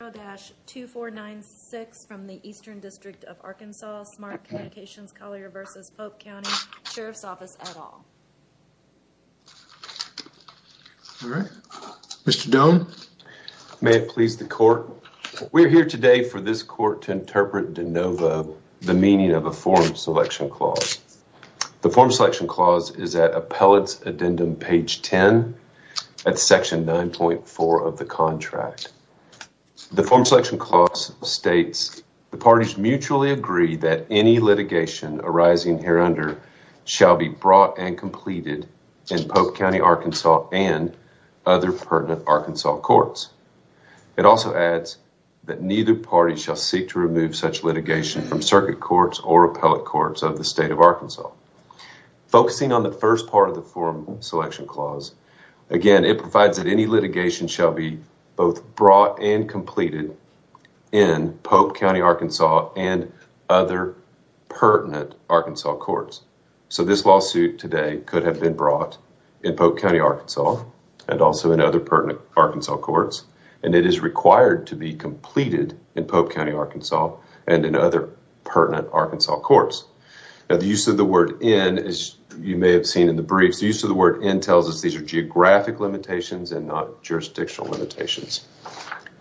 2496 from the Eastern District of Arkansas, Smart Communications Collier v. Pope County Sheriff's Office, et al. Mr. Doan. May it please the court. We're here today for this court to interpret de novo the meaning of a form selection clause. The form selection clause is at appellate's addendum page 10 at section 9.4 of the contract. The form selection clause states the parties mutually agree that any litigation arising here under shall be brought and completed in Pope County, Arkansas, and other pertinent Arkansas courts. It also adds that neither party shall seek to remove such litigation from circuit courts or appellate courts of the state of Arkansas. Focusing on the first part of the form selection clause, again, it provides that any litigation shall be both brought and completed in Pope County, Arkansas, and other pertinent Arkansas courts. So this lawsuit today could have been brought in Pope County, Arkansas, and also in other pertinent Arkansas courts, and it is required to be completed in Pope County, Arkansas, and in other pertinent Arkansas courts. Now the use of the word in, as you may have seen in the briefs, the use of the word in tells us these are geographic limitations and not jurisdictional limitations.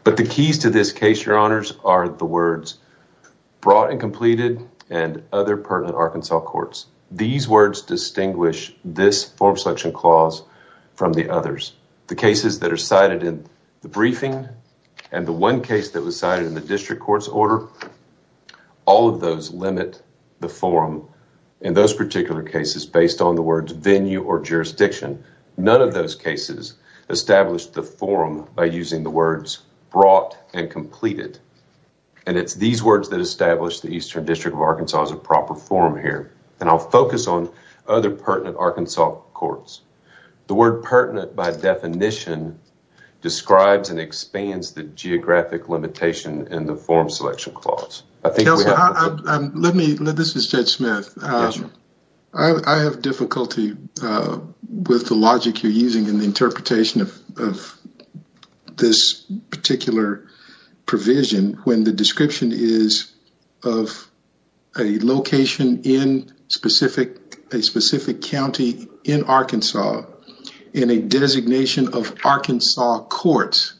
But the keys to this case, your honors, are the words brought and completed and other pertinent Arkansas courts. These words distinguish this form selection clause from the others. The cases that are cited in the briefing and the one case that was cited in the district court's order, all of those limit the form in those particular cases based on the words venue or jurisdiction. None of those cases establish the form by using the words brought and completed. And it's these words that establish the Eastern District of Arkansas as a proper form here. And I'll focus on other pertinent Arkansas courts. The word pertinent by definition describes and expands the geographic limitation in the form selection clause. This is Judge Smith. I have difficulty with the logic you're using in the interpretation of this particular provision when the description is of a location in a specific county in Arkansas in a designation of Arkansas courts.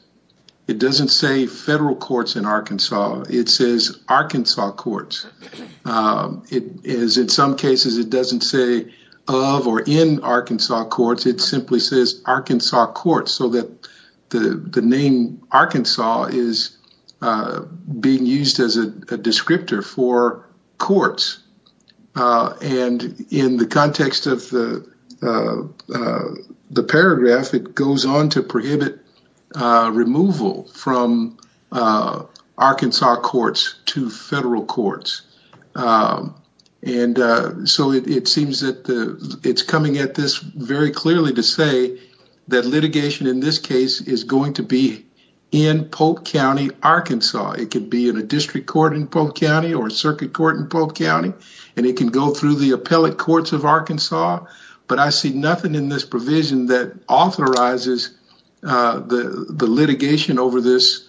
It doesn't say federal courts in Arkansas. It says Arkansas courts. It is in some cases it doesn't say of or in Arkansas courts. It simply says Arkansas courts so that the name Arkansas is being used as a descriptor for courts. And in the context of the paragraph, it goes on to prohibit removal from Arkansas courts to federal courts. And so it seems that it's coming at this very clearly to say that litigation in this case is going to be in Polk County, Arkansas. It could be in a district court in Polk County or circuit court in Polk County, and it can go through the appellate courts of Arkansas. But I see nothing in this provision that authorizes the litigation over this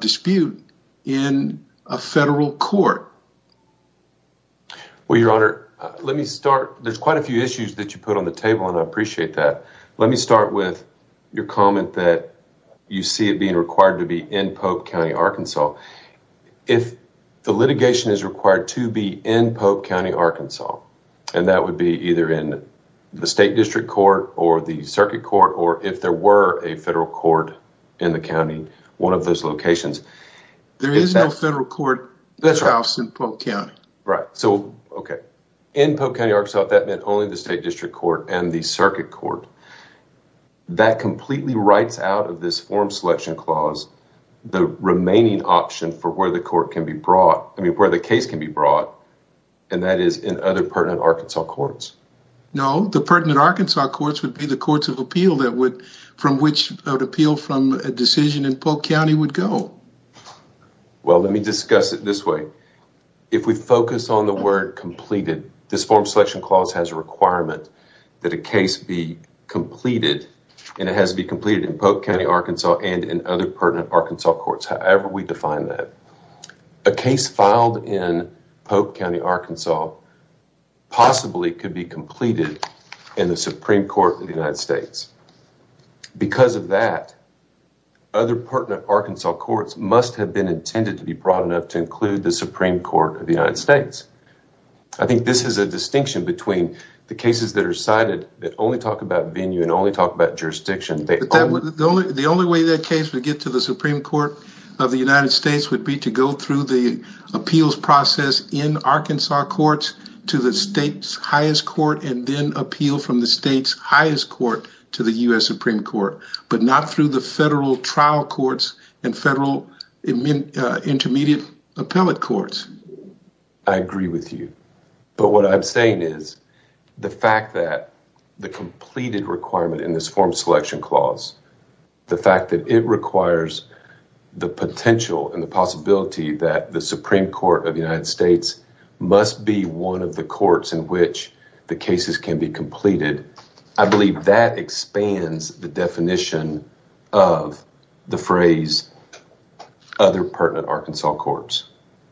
dispute in a federal court. Well, Your Honor, let me start. There's quite a few issues that you put on the table, and I appreciate that. Let me start with your comment that you see it being required to be in Polk County, Arkansas. If the litigation is required to be in Polk County, Arkansas, and that would be either in the state district court or the circuit court, or if there were a federal court in the county, one of those locations. There is no federal court in Polk County. Right. So, OK, in Polk County, Arkansas, that meant only the state district court and the circuit court. That completely writes out of this form selection clause the remaining option for where the court can be brought, I mean, where the case can be brought. And that is in other pertinent Arkansas courts. No, the pertinent Arkansas courts would be the courts of appeal that would from which appeal from a decision in Polk County would go. Well, let me discuss it this way. If we focus on the word completed, this form selection clause has a requirement that a case be completed, and it has to be completed in Polk County, Arkansas, and in other pertinent Arkansas courts, however we define that. A case filed in Polk County, Arkansas, possibly could be completed in the Supreme Court of the United States. Because of that, other pertinent Arkansas courts must have been intended to be broad enough to include the Supreme Court of the United States. I think this is a distinction between the cases that are cited that only talk about venue and only talk about jurisdiction. The only way that case would get to the Supreme Court of the United States would be to go through the appeals process in Arkansas courts to the state's highest court and then appeal from the state's highest court to the U.S. Supreme Court, but not through the federal trial courts and federal intermediate appellate courts. I agree with you. But what I'm saying is the fact that the completed requirement in this form selection clause, the fact that it requires the potential and the possibility that the Supreme Court of the United States must be one of the courts in which the cases can be completed, I believe that expands the definition of the phrase other pertinent Arkansas courts.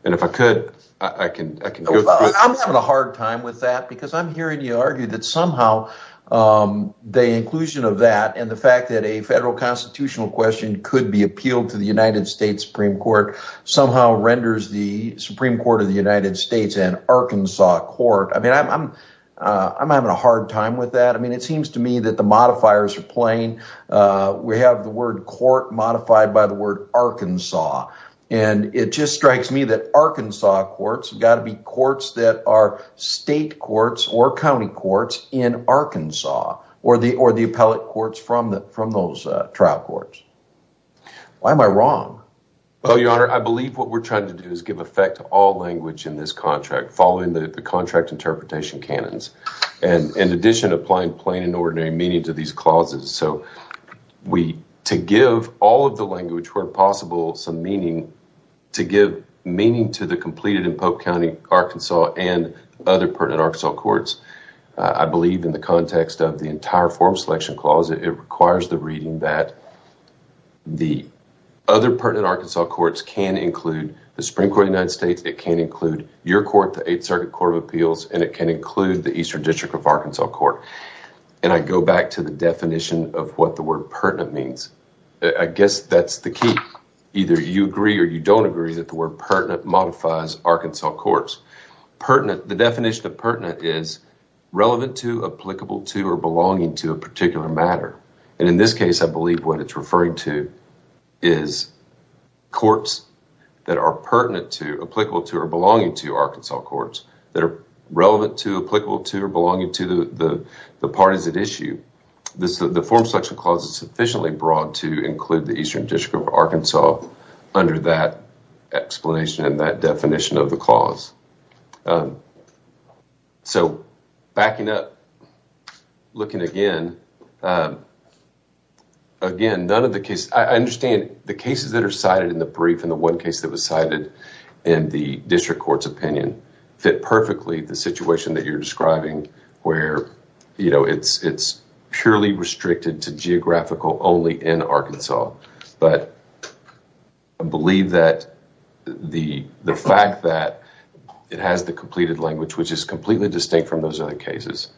And if I could, I can. I'm having a hard time with that because I'm hearing you argue that somehow the inclusion of that and the fact that a federal constitutional question could be appealed to the United States Supreme Court somehow renders the Supreme Court of the United States an Arkansas court. I mean, I'm I'm having a hard time with that. I mean, it seems to me that the modifiers are playing. We have the word court modified by the word Arkansas, and it just strikes me that Arkansas courts have got to be courts that are state courts or county courts in Arkansas or the or the appellate courts from the from those trial courts. Why am I wrong? Oh, your honor, I believe what we're trying to do is give effect to all language in this contract following the contract interpretation cannons. And in addition, applying plain and ordinary meaning to these clauses. So we to give all of the language where possible, some meaning to give meaning to the completed in Pope County, Arkansas and other pertinent Arkansas courts. I believe in the context of the entire form selection clause, it requires the reading that the other pertinent Arkansas courts can include the Supreme Court United States. It can include your court, the Eighth Circuit Court of Appeals, and it can include the Eastern District of Arkansas court. And I go back to the definition of what the word pertinent means. I guess that's the key. Either you agree or you don't agree that the word pertinent modifies Arkansas courts pertinent. The definition of pertinent is relevant to, applicable to or belonging to a particular matter. And in this case, I believe what it's referring to is courts that are pertinent to, applicable to or belonging to Arkansas courts that are relevant to, applicable to or belonging to the parties at issue. The form selection clause is sufficiently broad to include the Eastern District of Arkansas under that explanation and that definition of the clause. So backing up, looking again, again, none of the cases, I understand the cases that are cited in the brief and the one case that was cited in the district court's opinion, fit perfectly the situation that you're describing where, you know, it's purely restricted to geographical only in Arkansas. But I believe that the fact that it has the completed language, which is completely distinct from those other cases,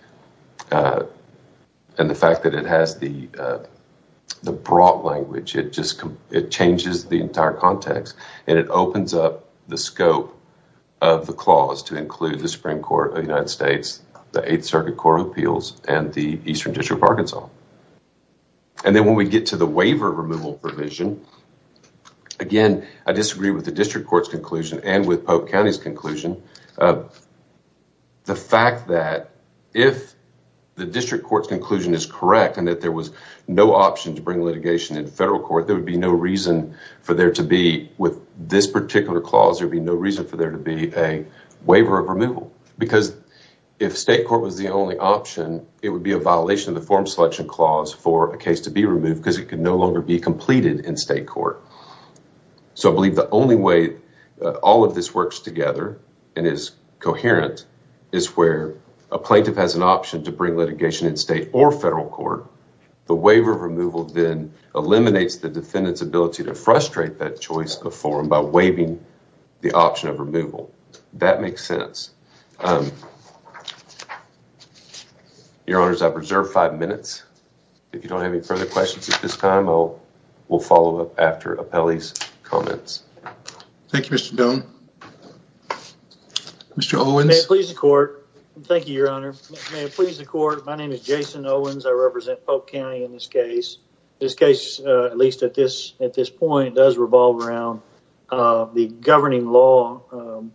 and the fact that it has the broad language, it just changes the entire context. And it opens up the scope of the clause to include the Supreme Court of the United States, the Eighth Circuit Court of Appeals, and the Eastern District of Arkansas. And then when we get to the waiver removal provision, again, I disagree with the district court's conclusion and with Polk County's conclusion. The fact that if the district court's conclusion is correct and that there was no option to bring litigation in federal court, there would be no reason for there to be, with this particular clause, there'd be no reason for there to be a waiver of removal. Because if state court was the only option, it would be a violation of the form selection clause for a case to be removed because it could no longer be completed in state court. So I believe the only way all of this works together and is coherent is where a plaintiff has an option to bring litigation in state or federal court. The waiver of removal then eliminates the defendant's ability to frustrate that choice of form by waiving the option of removal. That makes sense. Your Honors, I've reserved five minutes. If you don't have any further questions at this time, we'll follow up after Appellee's comments. Thank you, Mr. Doan. Mr. Owens. May it please the court. Thank you, Your Honor. May it please the court. My name is Jason Owens. I represent Polk County in this case. This case, at least at this point, does revolve around the governing law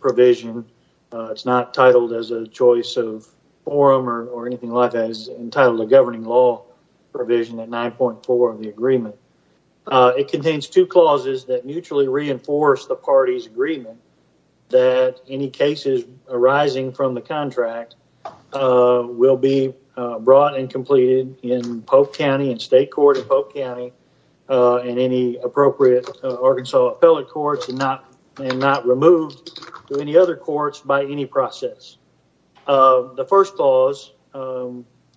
provision. It's not titled as a choice of form or anything like that. It's entitled a governing law provision at 9.4 of the agreement. It contains two clauses that mutually reinforce the party's agreement that any cases arising from the contract will be brought and completed in Polk County, in state court in Polk County and any appropriate Arkansas appellate courts and not removed to any other courts by any process. The first clause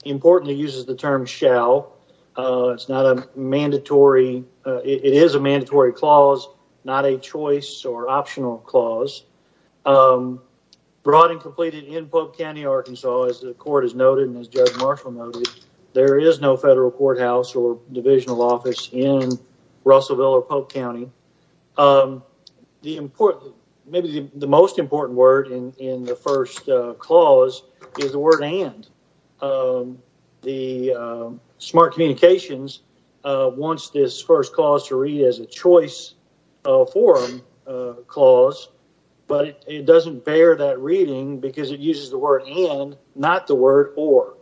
importantly uses the term shall. It's not a mandatory. It is a mandatory clause, not a choice or optional clause brought and completed in Polk County, Arkansas. As the court has noted and as Judge Marshall noted, there is no federal courthouse or divisional office in Russellville or Polk County. The important maybe the most important word in the first clause is the word and the smart communications wants this first clause to read as a choice for clause. But it doesn't bear that reading because it uses the word and not the word or,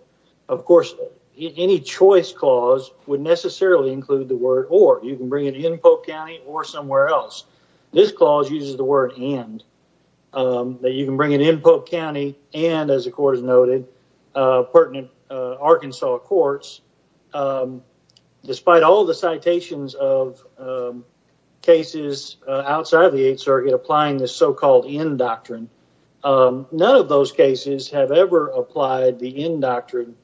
of course, any choice clause would necessarily include the word or. You can bring it in Polk County or somewhere else. This clause uses the word and that you can bring it in Polk County. And as the court has noted, pertinent Arkansas courts, despite all the citations of cases outside of the 8th Circuit, applying the so-called in doctrine. None of those cases have ever applied the in doctrine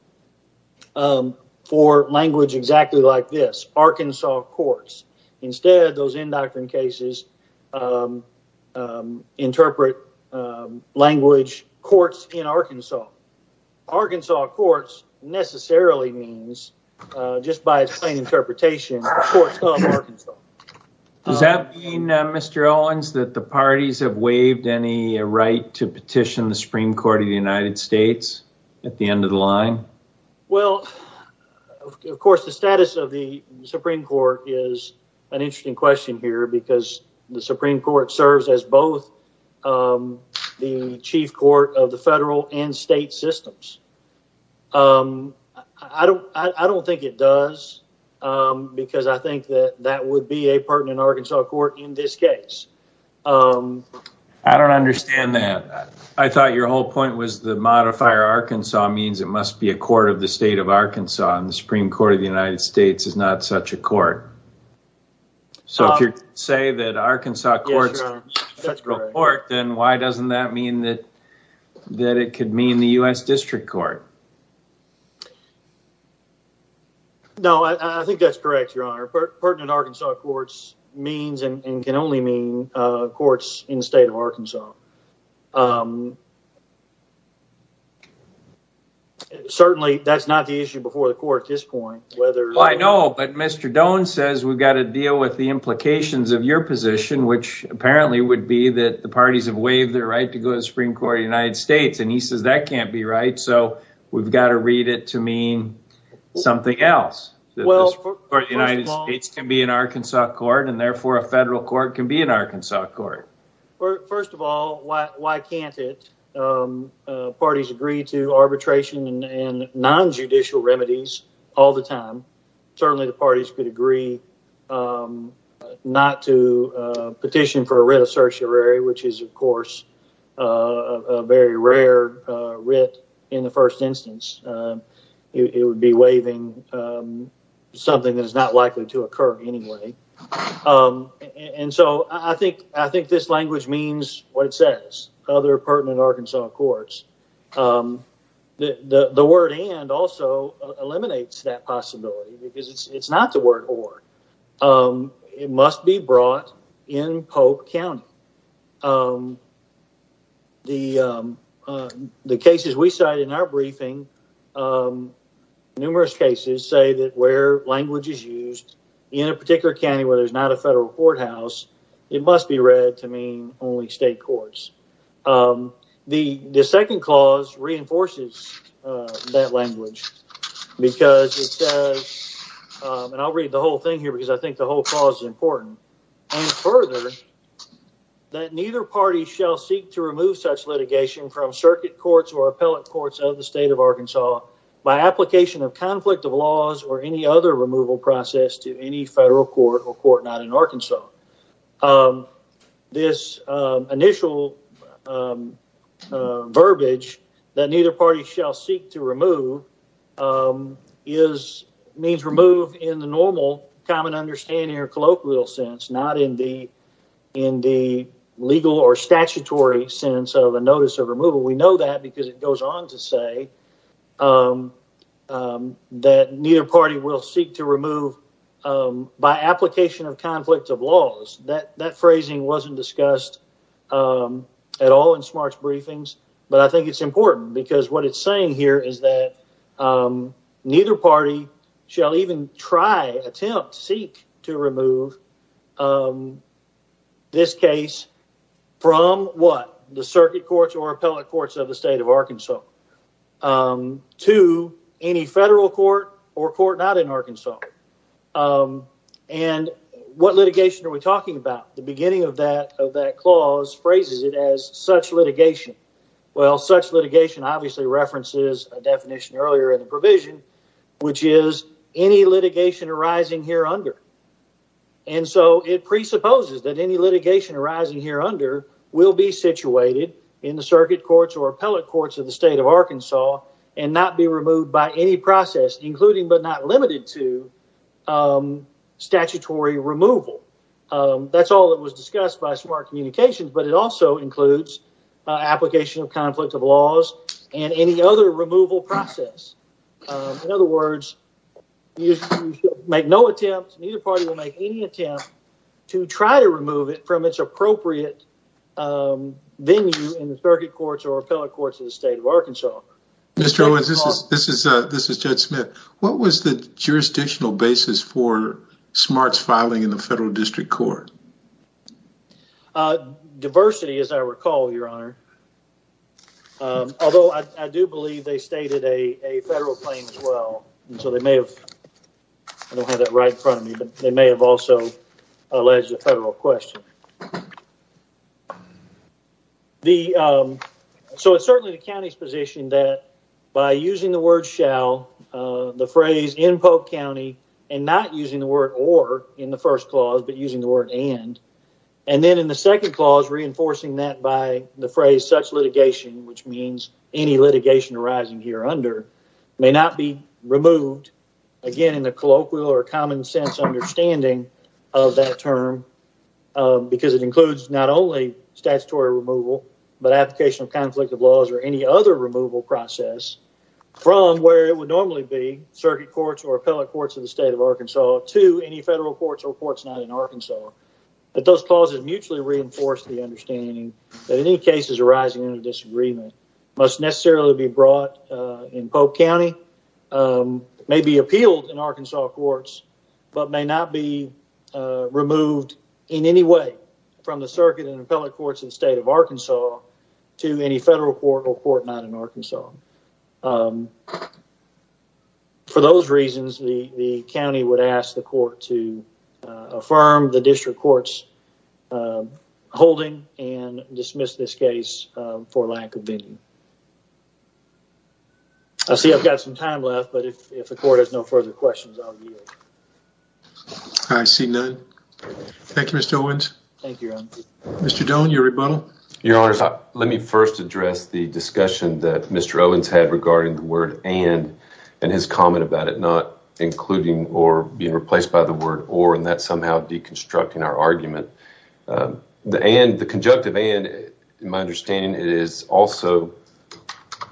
for language exactly like this Arkansas courts. Instead, those in doctrine cases interpret language courts in Arkansas. Arkansas courts necessarily means just by plain interpretation. Does that mean, Mr. Owens, that the parties have waived any right to petition the Supreme Court of the United States at the end of the line? Well, of course, the status of the Supreme Court is an interesting question here because the Supreme Court serves as both the chief court of the federal and state systems. I don't think it does because I think that that would be a pertinent Arkansas court in this case. I don't understand that. I thought your whole point was the modifier Arkansas means it must be a court of the state of Arkansas and the Supreme Court of the United States is not such a court. So, if you say that Arkansas courts are a federal court, then why doesn't that mean that it could mean the U.S. District Court? No, I think that's correct, Your Honor. Pertinent Arkansas courts means and can only mean courts in the state of Arkansas. Certainly, that's not the issue before the court at this point. I know, but Mr. Doan says we've got to deal with the implications of your position, which apparently would be that the parties have waived their right to go to the Supreme Court of the United States. He says that can't be right, so we've got to read it to mean something else. The Supreme Court of the United States can be an Arkansas court, and therefore a federal court can be an Arkansas court. First of all, why can't it? Parties agree to arbitration and nonjudicial remedies all the time. Certainly, the parties could agree not to petition for a writ of certiorari, which is, of course, a very rare writ in the first instance. It would be waiving something that is not likely to occur anyway. I think this language means what it says, other pertinent Arkansas courts. The word and also eliminates that possibility because it's not the word or. It must be brought in Pope County. The cases we cited in our briefing, numerous cases say that where language is used in a particular county where there's not a federal courthouse, it must be read to mean only state courts. The second clause reinforces that language because it says, and I'll read the whole thing here because I think the whole clause is important. And further, that neither party shall seek to remove such litigation from circuit courts or appellate courts of the state of Arkansas by application of conflict of laws or any other removal process to any federal court or court not in Arkansas. This initial verbiage that neither party shall seek to remove means remove in the normal common understanding or colloquial sense, not in the legal or statutory sense of a notice of removal. We know that because it goes on to say that neither party will seek to remove by application of conflict of laws that that phrasing wasn't discussed at all in smart briefings. But I think it's important because what it's saying here is that neither party shall even try, attempt, seek to remove this case from what the circuit courts or appellate courts of the state of Arkansas to any federal court or court not in Arkansas. And what litigation are we talking about? The beginning of that of that clause phrases it as such litigation. Well, such litigation obviously references a definition earlier in the provision, which is any litigation arising here under. And so it presupposes that any litigation arising here under will be situated in the circuit courts or appellate courts of the state of Arkansas and not be removed by any process, including but not limited to statutory removal. That's all that was discussed by smart communications, but it also includes application of conflict of laws and any other removal process. In other words, you make no attempt. Neither party will make any attempt to try to remove it from its appropriate venue in the circuit courts or appellate courts of the state of Arkansas. Mr. Owens, this is this is this is Judge Smith. What was the jurisdictional basis for smarts filing in the federal district court? Diversity, as I recall, your honor. Although I do believe they stated a federal claim as well. So they may have had it right in front of me. They may have also alleged a federal question. The so it's certainly the county's position that by using the word shall the phrase in Polk County and not using the word or in the first clause, but using the word and. And then in the second clause, reinforcing that by the phrase such litigation, which means any litigation arising here under may not be removed. Again, in the colloquial or common sense understanding of that term, because it includes not only statutory removal, but application of conflict of laws or any other removal process from where it would normally be circuit courts or appellate courts of the state of Arkansas to any federal courts or courts not in Arkansas. But those clauses mutually reinforce the understanding that any cases arising in a disagreement must necessarily be brought in. Polk County may be appealed in Arkansas courts, but may not be removed in any way from the circuit and appellate courts in the state of Arkansas to any federal court or court not in Arkansas. For those reasons, the county would ask the court to affirm the district courts holding and dismiss this case for lack of being. I see I've got some time left, but if the court has no further questions, I'll be. I see none. Thank you, Mr. Owens. Thank you. Mr. Don't your rebuttal. Your Honor, let me first address the discussion that Mr. Owens had regarding the word and and his comment about it not including or being replaced by the word or and that somehow deconstructing our argument. The and the conjunctive and my understanding, it is also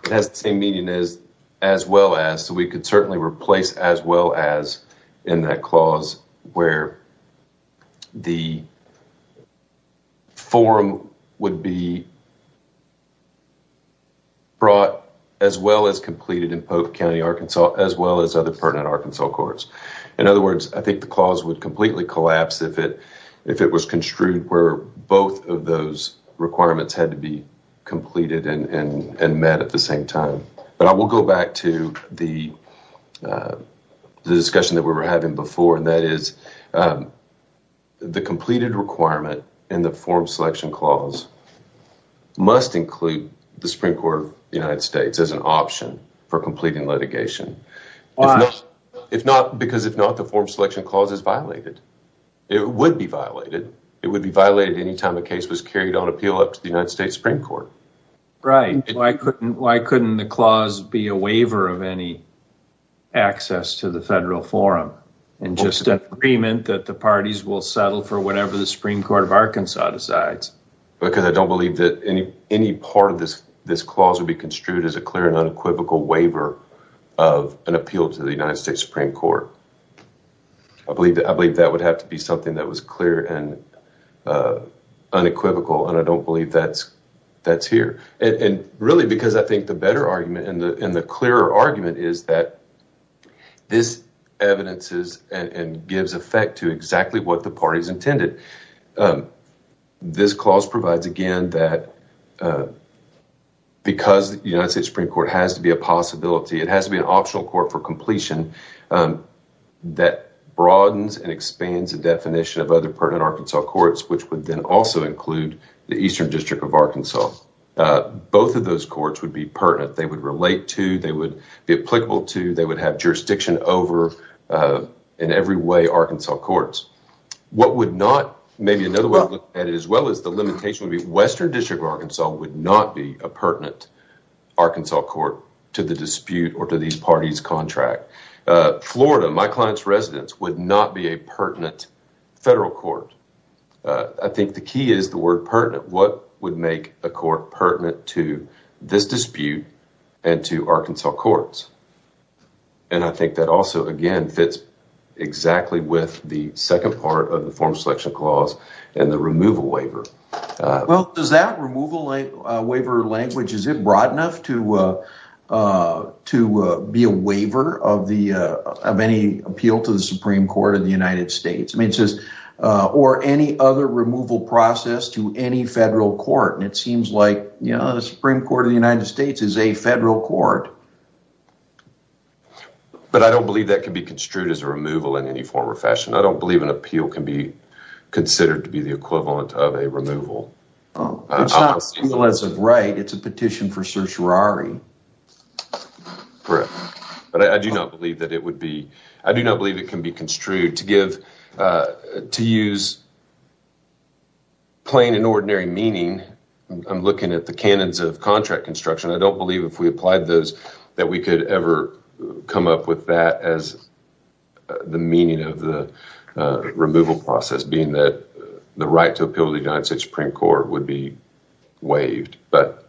it has the same meaning as as well as so we could certainly replace as well as in that clause where. The. Forum would be. Brought as well as completed in Polk County, Arkansas, as well as other pertinent Arkansas courts. In other words, I think the clause would completely collapse if it if it was construed where both of those requirements had to be completed and met at the same time. But I will go back to the discussion that we were having before, and that is. The completed requirement in the form selection clause. Must include the Supreme Court of the United States as an option for completing litigation. If not, because if not, the form selection clause is violated, it would be violated. It would be violated anytime a case was carried on appeal up to the United States Supreme Court. Right, why couldn't why couldn't the clause be a waiver of any access to the federal forum and just an agreement that the parties will settle for whatever the Supreme Court of Arkansas decides? Because I don't believe that any any part of this, this clause would be construed as a clear and unequivocal waiver of an appeal to the United States Supreme Court. I believe that I believe that would have to be something that was clear and unequivocal, and I don't believe that's that's here. And really, because I think the better argument in the in the clearer argument is that this evidences and gives effect to exactly what the parties intended. This clause provides again that. Because the United States Supreme Court has to be a possibility, it has to be an optional court for completion. That broadens and expands the definition of other pertinent Arkansas courts, which would then also include the Eastern District of Arkansas. Both of those courts would be pertinent. They would relate to they would be applicable to they would have jurisdiction over in every way Arkansas courts. What would not maybe another way at it as well as the limitation of the Western District of Arkansas would not be a pertinent Arkansas court to the dispute or to these parties contract Florida. My client's residence would not be a pertinent federal court. I think the key is the word pertinent. What would make a court pertinent to this dispute and to Arkansas courts? And I think that also, again, fits exactly with the second part of the form selection clause and the removal waiver. Well, does that removal waiver language, is it broad enough to to be a waiver of the of any appeal to the Supreme Court of the United States? I mean, just or any other removal process to any federal court. And it seems like, you know, the Supreme Court of the United States is a federal court. But I don't believe that can be construed as a removal in any form or fashion. I don't believe an appeal can be considered to be the equivalent of a removal. Oh, it's not as of right. It's a petition for certiorari. Correct. But I do not believe that it would be I do not believe it can be construed to give to use. Plain and ordinary meaning, I'm looking at the canons of contract construction. I don't believe if we applied those that we could ever come up with that as the meaning of the removal process, being that the right to appeal to the Supreme Court would be waived. But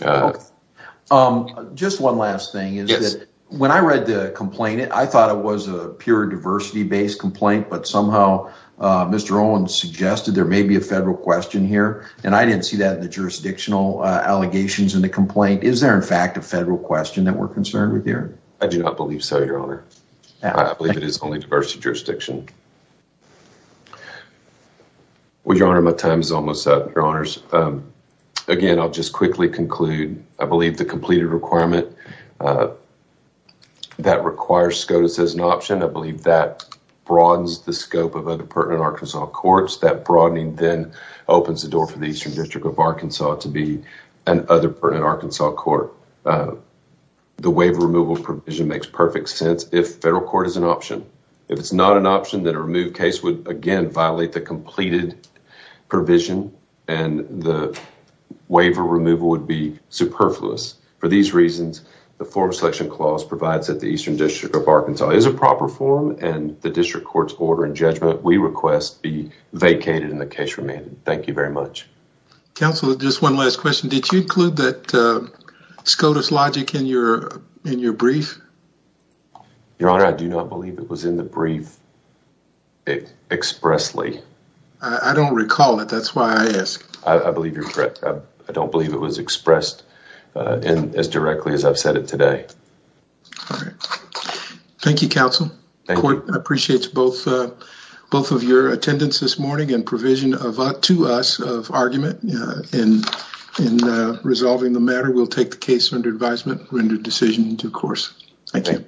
just one last thing is that when I read the complaint, I thought it was a pure diversity based complaint. But somehow, Mr. Owens suggested there may be a federal question here. And I didn't see that in the jurisdictional allegations in the complaint. Is there, in fact, a federal question that we're concerned with here? I do not believe so, Your Honor. I believe it is only diversity jurisdiction. Well, Your Honor, my time is almost up, Your Honors. Again, I'll just quickly conclude. I believe the completed requirement that requires SCOTUS as an option. I believe that broadens the scope of other pertinent Arkansas courts. That broadening then opens the door for the Eastern District of Arkansas to be an other pertinent Arkansas court. The waiver removal provision makes perfect sense if federal court is an option. If it's not an option, then a removed case would, again, violate the completed provision. And the waiver removal would be superfluous. For these reasons, the Foreign Selection Clause provides that the Eastern District of Arkansas is a proper form. And the district court's order and judgment, we request, be vacated and the case remanded. Thank you very much. Counsel, just one last question. Did you include that SCOTUS logic in your brief? Your Honor, I do not believe it was in the brief expressly. I don't recall it. That's why I ask. I believe you're correct. I don't believe it was expressed as directly as I've said it today. Thank you, Counsel. The court appreciates both of your attendance this morning and provision to us of argument in resolving the matter. We'll take the case under advisement and render the decision due course. Thank you.